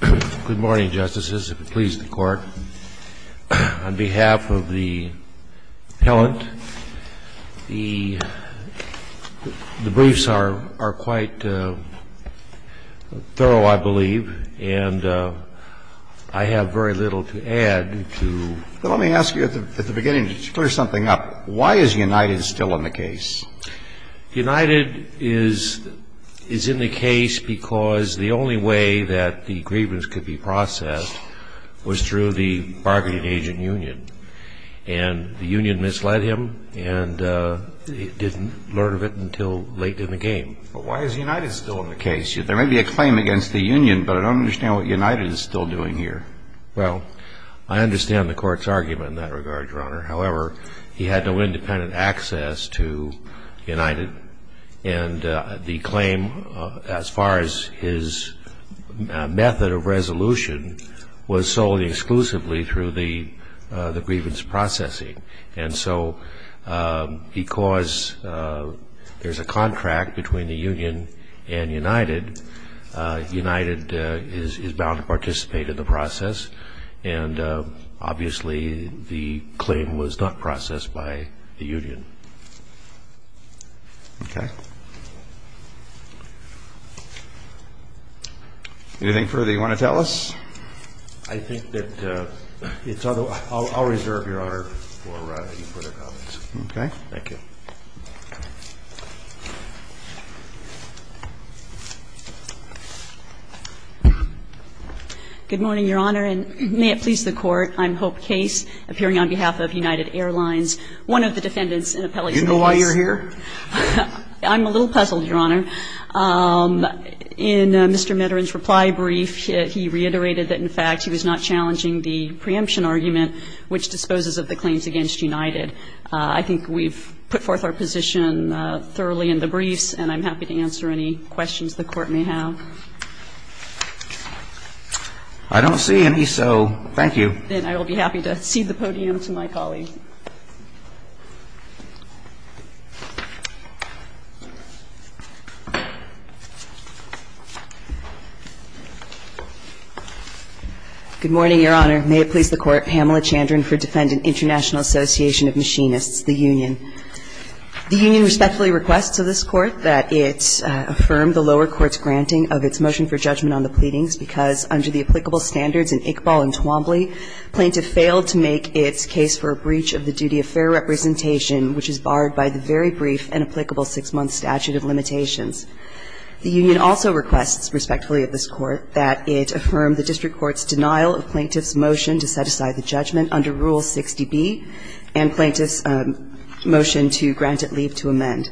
Good morning, Justices, if it please the Court. On behalf of the appellant, the briefs are quite thorough, I believe, and I have very little to add. Let me ask you at the beginning to clear something up. Why is United still in the case? United is in the case because the only way that the grievance could be processed was through the bargaining agent union, and the union misled him and he didn't learn of it until late in the game. But why is United still in the case? There may be a claim against the union, but I don't understand what United is still doing here. Well, I understand the Court's argument in that regard, Your Honor. However, he had no independent access to United, and the claim as far as his method of resolution was solely exclusively through the grievance processing. And so because there's a contract between the union and United, United is bound to participate in the process, and obviously the claim was not processed by the union. Okay. Anything further you want to tell us? I think that it's other – I'll reserve, Your Honor, for your further comments. Okay. Thank you. Good morning, Your Honor, and may it please the Court. I'm Hope Case, appearing on behalf of United Airlines, one of the defendants in appellate case. Do you know why you're here? I'm a little puzzled, Your Honor. In Mr. Mitterand's reply brief, he reiterated that in fact he was not challenging the preemption argument which disposes of the claims against United. I think we've put forth our position thoroughly in the briefs, and I'm happy to answer any questions the Court may have. I don't see any, so thank you. Then I will be happy to cede the podium to my colleague. Good morning, Your Honor. May it please the Court. Pamela Chandran for Defendant International Association of Machinists, the union. The union respectfully requests of this Court that it affirm the lower court's granting of its motion for judgment on the pleadings because under the applicable standards in Iqbal and Twombly, plaintiff failed to make its case for a breach of the duty of fair representation which is barred by the very brief and applicable six-month statute of limitations. The union also requests, respectfully of this Court, that it affirm the district court's denial of plaintiff's motion to set aside the judgment under Rule 60B and plaintiff's motion to grant it leave to amend.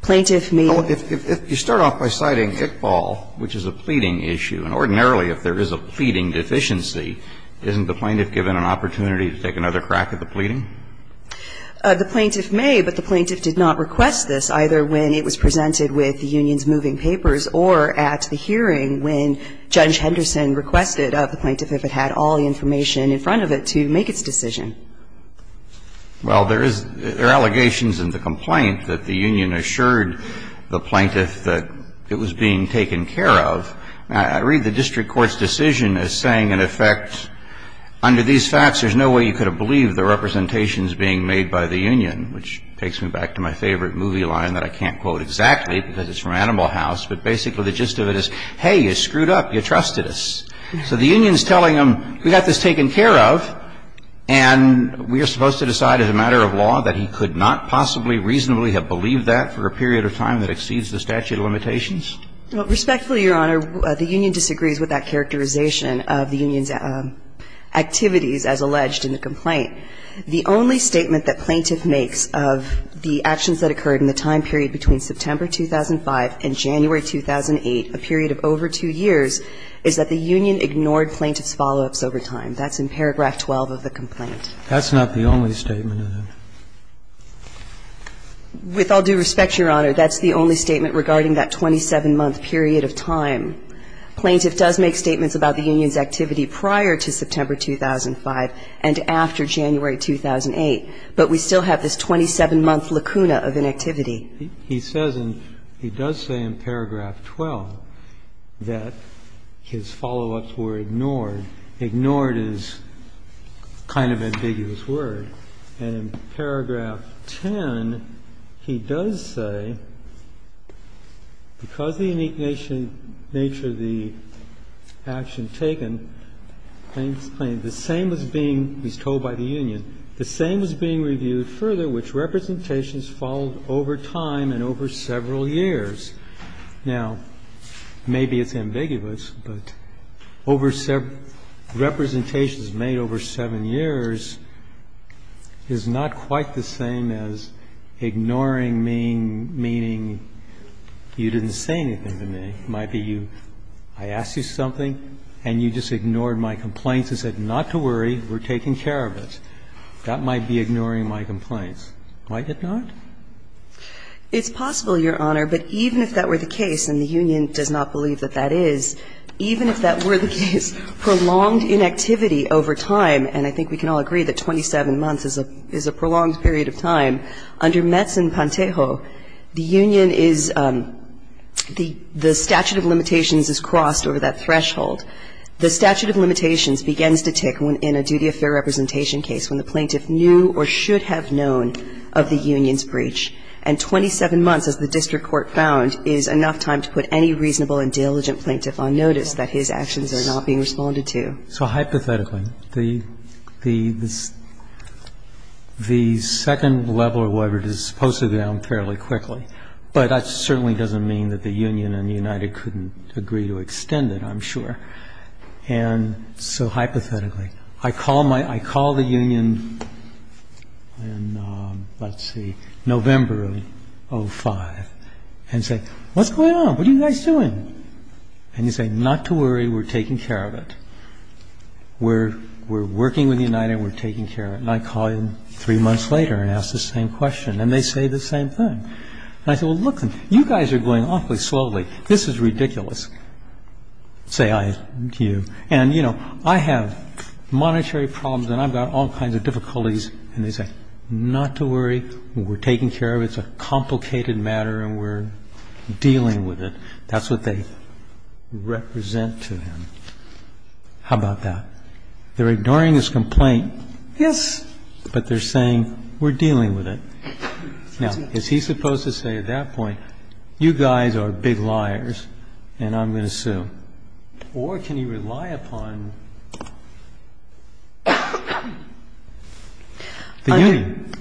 Plaintiff may be. If you start off by citing Iqbal, which is a pleading issue, and ordinarily if there is a pleading deficiency, isn't the plaintiff given an opportunity to take another crack at the pleading? The plaintiff may, but the plaintiff did not request this either when it was presented with the union's moving papers or at the hearing when Judge Henderson requested of the plaintiff if it had all the information in front of it to make its decision. Well, there is – there are allegations in the complaint that the union assured the plaintiff that it was being taken care of. I read the district court's decision as saying, in effect, under these facts there's no way you could have believed the representations being made by the union, which takes me back to my favorite movie line that I can't quote exactly because it's from Animal House, but basically the gist of it is, hey, you screwed up, you trusted us. So the union is telling him, we got this taken care of, and we are supposed to decide as a matter of law that he could not possibly reasonably have believed that for a period of time that exceeds the statute of limitations? Respectfully, Your Honor, the union disagrees with that characterization of the union's activities as alleged in the complaint. The only statement that plaintiff makes of the actions that occurred in the time period between September 2005 and January 2008, a period of over two years, is that the union ignored plaintiff's follow-ups over time. That's in paragraph 12 of the complaint. That's not the only statement in it. With all due respect, Your Honor, that's the only statement regarding that 27-month period of time. Plaintiff does make statements about the union's activity prior to September 2005 and after January 2008, but we still have this 27-month lacuna of inactivity. He says, and he does say in paragraph 12, that his follow-ups were ignored. Ignored is kind of an ambiguous word. And in paragraph 10, he does say, because of the nature of the action taken, plaintiff's claim, the same was being, he's told by the union, the same was being reviewed further which representations followed over time and over several years. Now, maybe it's ambiguous, but over several, representations made over seven years is not quite the same as ignoring, meaning you didn't say anything to me. It might be I asked you something and you just ignored my complaints and said not to worry, we're taking care of it. That might be ignoring my complaints. Might it not? It's possible, Your Honor, but even if that were the case, and the union does not believe that that is, even if that were the case, prolonged inactivity over time and I think we can all agree that 27 months is a prolonged period of time, under Metz and Pantejo, the union is, the statute of limitations is crossed over that threshold. The statute of limitations begins to tick in a duty of fair representation case when the plaintiff knew or should have known of the union's breach. And 27 months, as the district court found, is enough time to put any reasonable and diligent plaintiff on notice that his actions are not being responded to. So hypothetically, the second level or whatever is supposed to go down fairly quickly. But that certainly doesn't mean that the union and the United couldn't agree to extend it, I'm sure. And so hypothetically, I call the union in, let's see, November of 2005 and say what's going on? What are you guys doing? And you say, not to worry, we're taking care of it. We're working with the United and we're taking care of it. And I call them three months later and ask the same question. And they say the same thing. And I say, well, look, you guys are going awfully slowly. This is ridiculous, say I to you. And, you know, I have monetary problems and I've got all kinds of difficulties. And they say, not to worry, we're taking care of it. It's a complicated matter and we're dealing with it. That's what they represent to him. How about that? They're ignoring his complaint. Yes. But they're saying we're dealing with it. Now, is he supposed to say at that point, you guys are big liars and I'm going to sue? Or can he rely upon the union?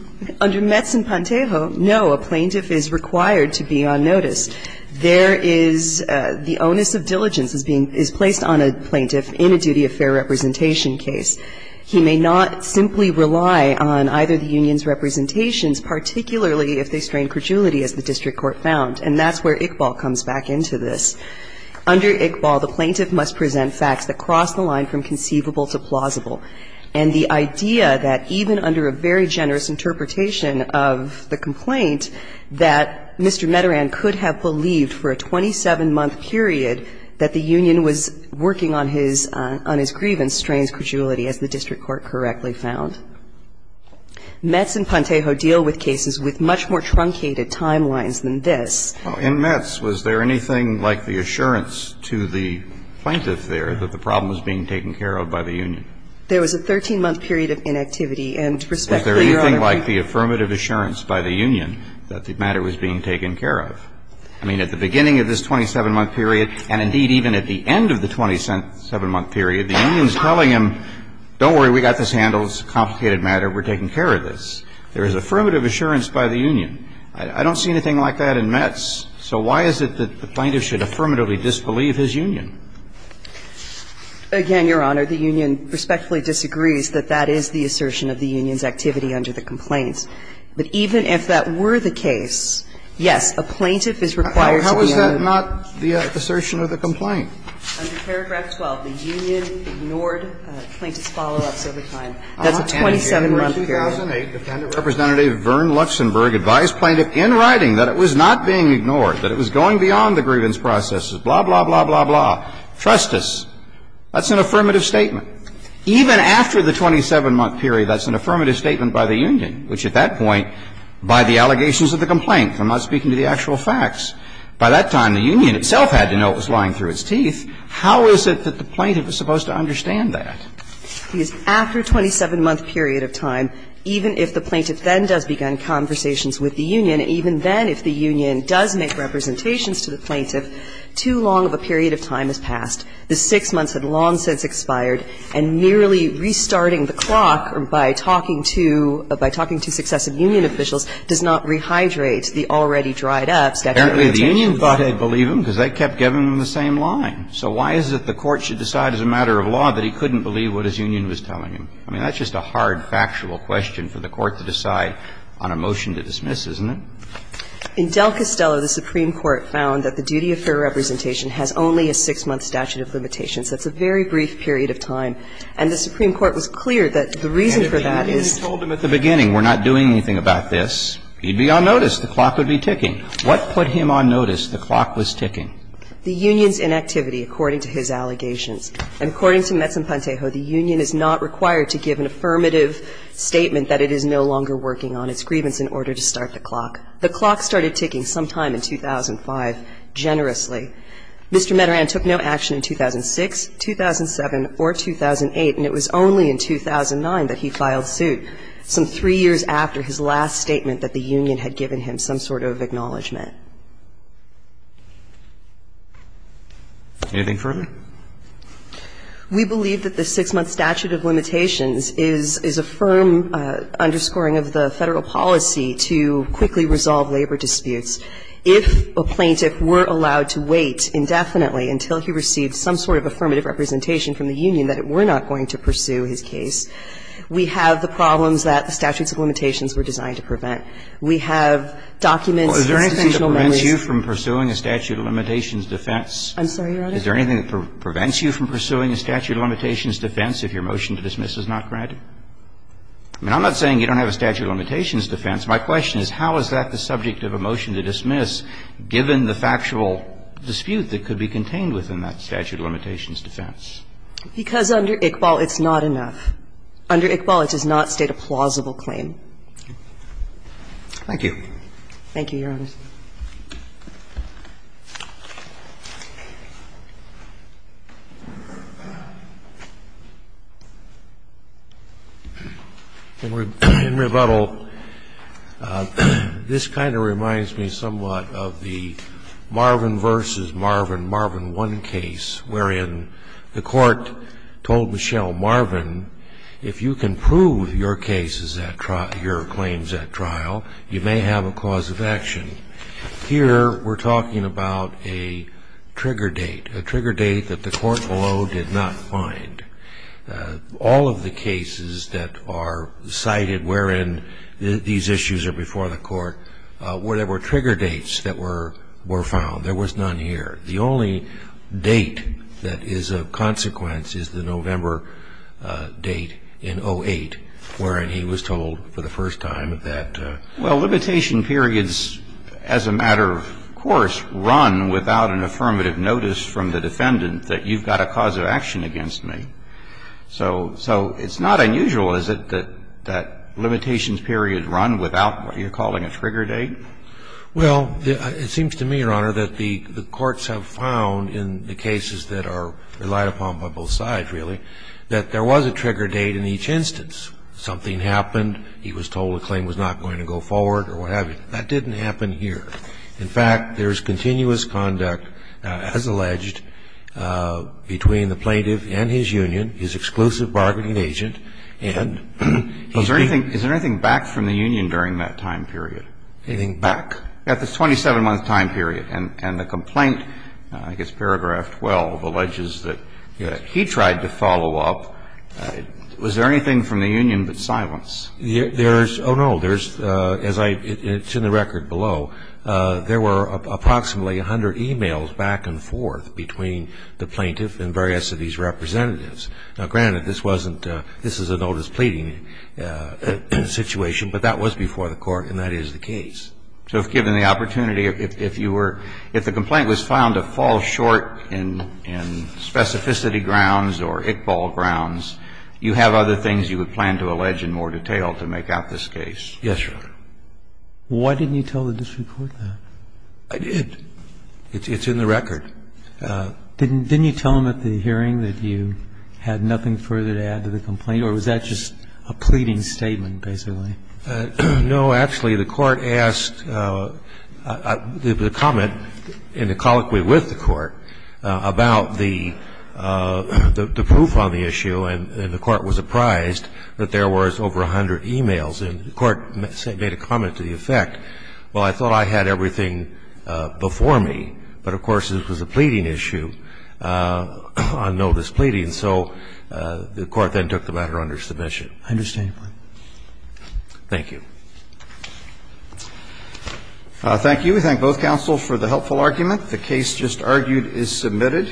Under Metz and Pantejo, no, a plaintiff is required to be on notice. There is the onus of diligence is placed on a plaintiff in a duty of fair representation case. He may not simply rely on either the union's representations, particularly if they strain credulity, as the district court found. And that's where Iqbal comes back into this. Under Iqbal, the plaintiff must present facts that cross the line from conceivable to plausible. And the idea that even under a very generous interpretation of the complaint that Mr. Mederand could have believed for a 27-month period that the union was working on his grievance strains credulity, as the district court correctly found. Metz and Pantejo deal with cases with much more truncated timelines than this. In Metz, was there anything like the assurance to the plaintiff there that the problem was being taken care of by the union? There was a 13-month period of inactivity. There was no affirmative assurance by the union that the matter was being taken care of. I mean, at the beginning of this 27-month period and, indeed, even at the end of the 27-month period, the union is telling him, don't worry, we got this handled. It's a complicated matter. We're taking care of this. There is affirmative assurance by the union. I don't see anything like that in Metz. So why is it that the plaintiff should affirmatively disbelieve his union? Again, Your Honor, the union respectfully disagrees that that is the assertion of the union's activity under the complaints. But even if that were the case, yes, a plaintiff is required to be in. Well, how is that not the assertion of the complaint? Under paragraph 12, the union ignored plaintiff's follow-ups over time. That's a 27-month period. I'm not going to hear you. In 2008, Defendant Representative Vern Luxenberg advised plaintiff in writing that it was not being ignored, that it was going beyond the grievance processes, blah, blah, blah, blah, blah, trust us. That's an affirmative statement. Even after the 27-month period, that's an affirmative statement by the union, which at that point, by the allegations of the complaint. I'm not speaking to the actual facts. By that time, the union itself had to know it was lying through its teeth. How is it that the plaintiff is supposed to understand that? Because after a 27-month period of time, even if the plaintiff then does begin conversations with the union, even then if the union does make representations to the plaintiff, too long of a period of time has passed. The 6 months had long since expired, and merely restarting the clock by talking to successive union officials does not rehydrate the already dried-up statute of limitations. Apparently, the union thought they'd believe him because they kept giving him the same line. So why is it the Court should decide as a matter of law that he couldn't believe what his union was telling him? I mean, that's just a hard factual question for the Court to decide on a motion to dismiss, isn't it? In Del Castello, the Supreme Court found that the duty of fair representation has only a 6-month statute of limitations. That's a very brief period of time. And the Supreme Court was clear that the reason for that is the union's inactivity, according to his allegations. And according to Metz and Pantejo, the union is not required to give an affirmative statement that it is no longer working on its grievance in order to start the clock. The clock started ticking sometime in 2005, generously. Mr. Mederan took no action in 2006, 2007, or 2008, and it was only in 2009 that he filed suit, some three years after his last statement that the union had given him some sort of acknowledgment. Anything further? We believe that the 6-month statute of limitations is a firm underscoring of the Federal policy to quickly resolve labor disputes. If a plaintiff were allowed to wait indefinitely until he received some sort of affirmative representation from the union that it were not going to pursue his case, we have the problems that the statutes of limitations were designed to prevent. We have documents, institutional memories. Roberts. Is there anything that prevents you from pursuing a statute of limitations defense? I'm sorry, Your Honor? Is there anything that prevents you from pursuing a statute of limitations defense if your motion to dismiss is not granted? I mean, I'm not saying you don't have a statute of limitations defense. My question is, how is that the subject of a motion to dismiss, given the factual dispute that could be contained within that statute of limitations defense? Because under Iqbal, it's not enough. Under Iqbal, it does not state a plausible claim. Thank you. Thank you, Your Honor. In rebuttal, this kind of reminds me somewhat of the Marvin v. Marvin, Marvin 1 case, wherein the Court told Michelle, Marvin, if you can prove your cases at trial, your claims at trial, you may have a cause of action. Here, we're talking about a trigger date, a trigger date that the Court below did not find. All of the cases that are cited wherein these issues are before the Court, there were trigger dates that were found. There was none here. The only date that is of consequence is the November date in 08, wherein he was told for the first time that. Well, limitation periods, as a matter of course, run without an affirmative notice from the defendant that you've got a cause of action against me. So it's not unusual, is it, that limitations period run without what you're calling a trigger date? Well, it seems to me, Your Honor, that the courts have found in the cases that are relied upon by both sides, really, that there was a trigger date in each instance. And in the case of the plaintiff, he was told that if something happened, he was told the claim was not going to go forward or what have you. That didn't happen here. In fact, there's continuous conduct, as alleged, between the plaintiff and his union, his exclusive bargaining agent, and he's being. Back from the union during that time period. Anything back? At the 27-month time period. And the complaint, I guess paragraph 12, alleges that he tried to follow up. Was there anything from the union but silence? There's no. There's, as I, it's in the record below, there were approximately 100 emails back and forth between the plaintiff and various of these representatives. Now, granted, this wasn't, this is a notice-pleading situation, but that was before the Court and that is the case. So if given the opportunity, if you were, if the complaint was found to fall short in specificity grounds or Iqbal grounds, you have other things you would plan to allege in more detail to make out this case? Yes, Your Honor. Why didn't you tell the district court that? It's in the record. Didn't you tell them at the hearing that you had nothing further to add to the complaint? Or was that just a pleading statement, basically? No. Actually, the Court asked, the comment in a colloquy with the Court about the proof on the issue, and the Court was apprised that there was over 100 emails. And the Court made a comment to the effect, well, I thought I had everything before me, but of course, it was a pleading issue, on notice pleading. So the Court then took the matter under submission. I understand your point. Thank you. Thank you. We thank both counsels for the helpful argument. The case just argued is submitted.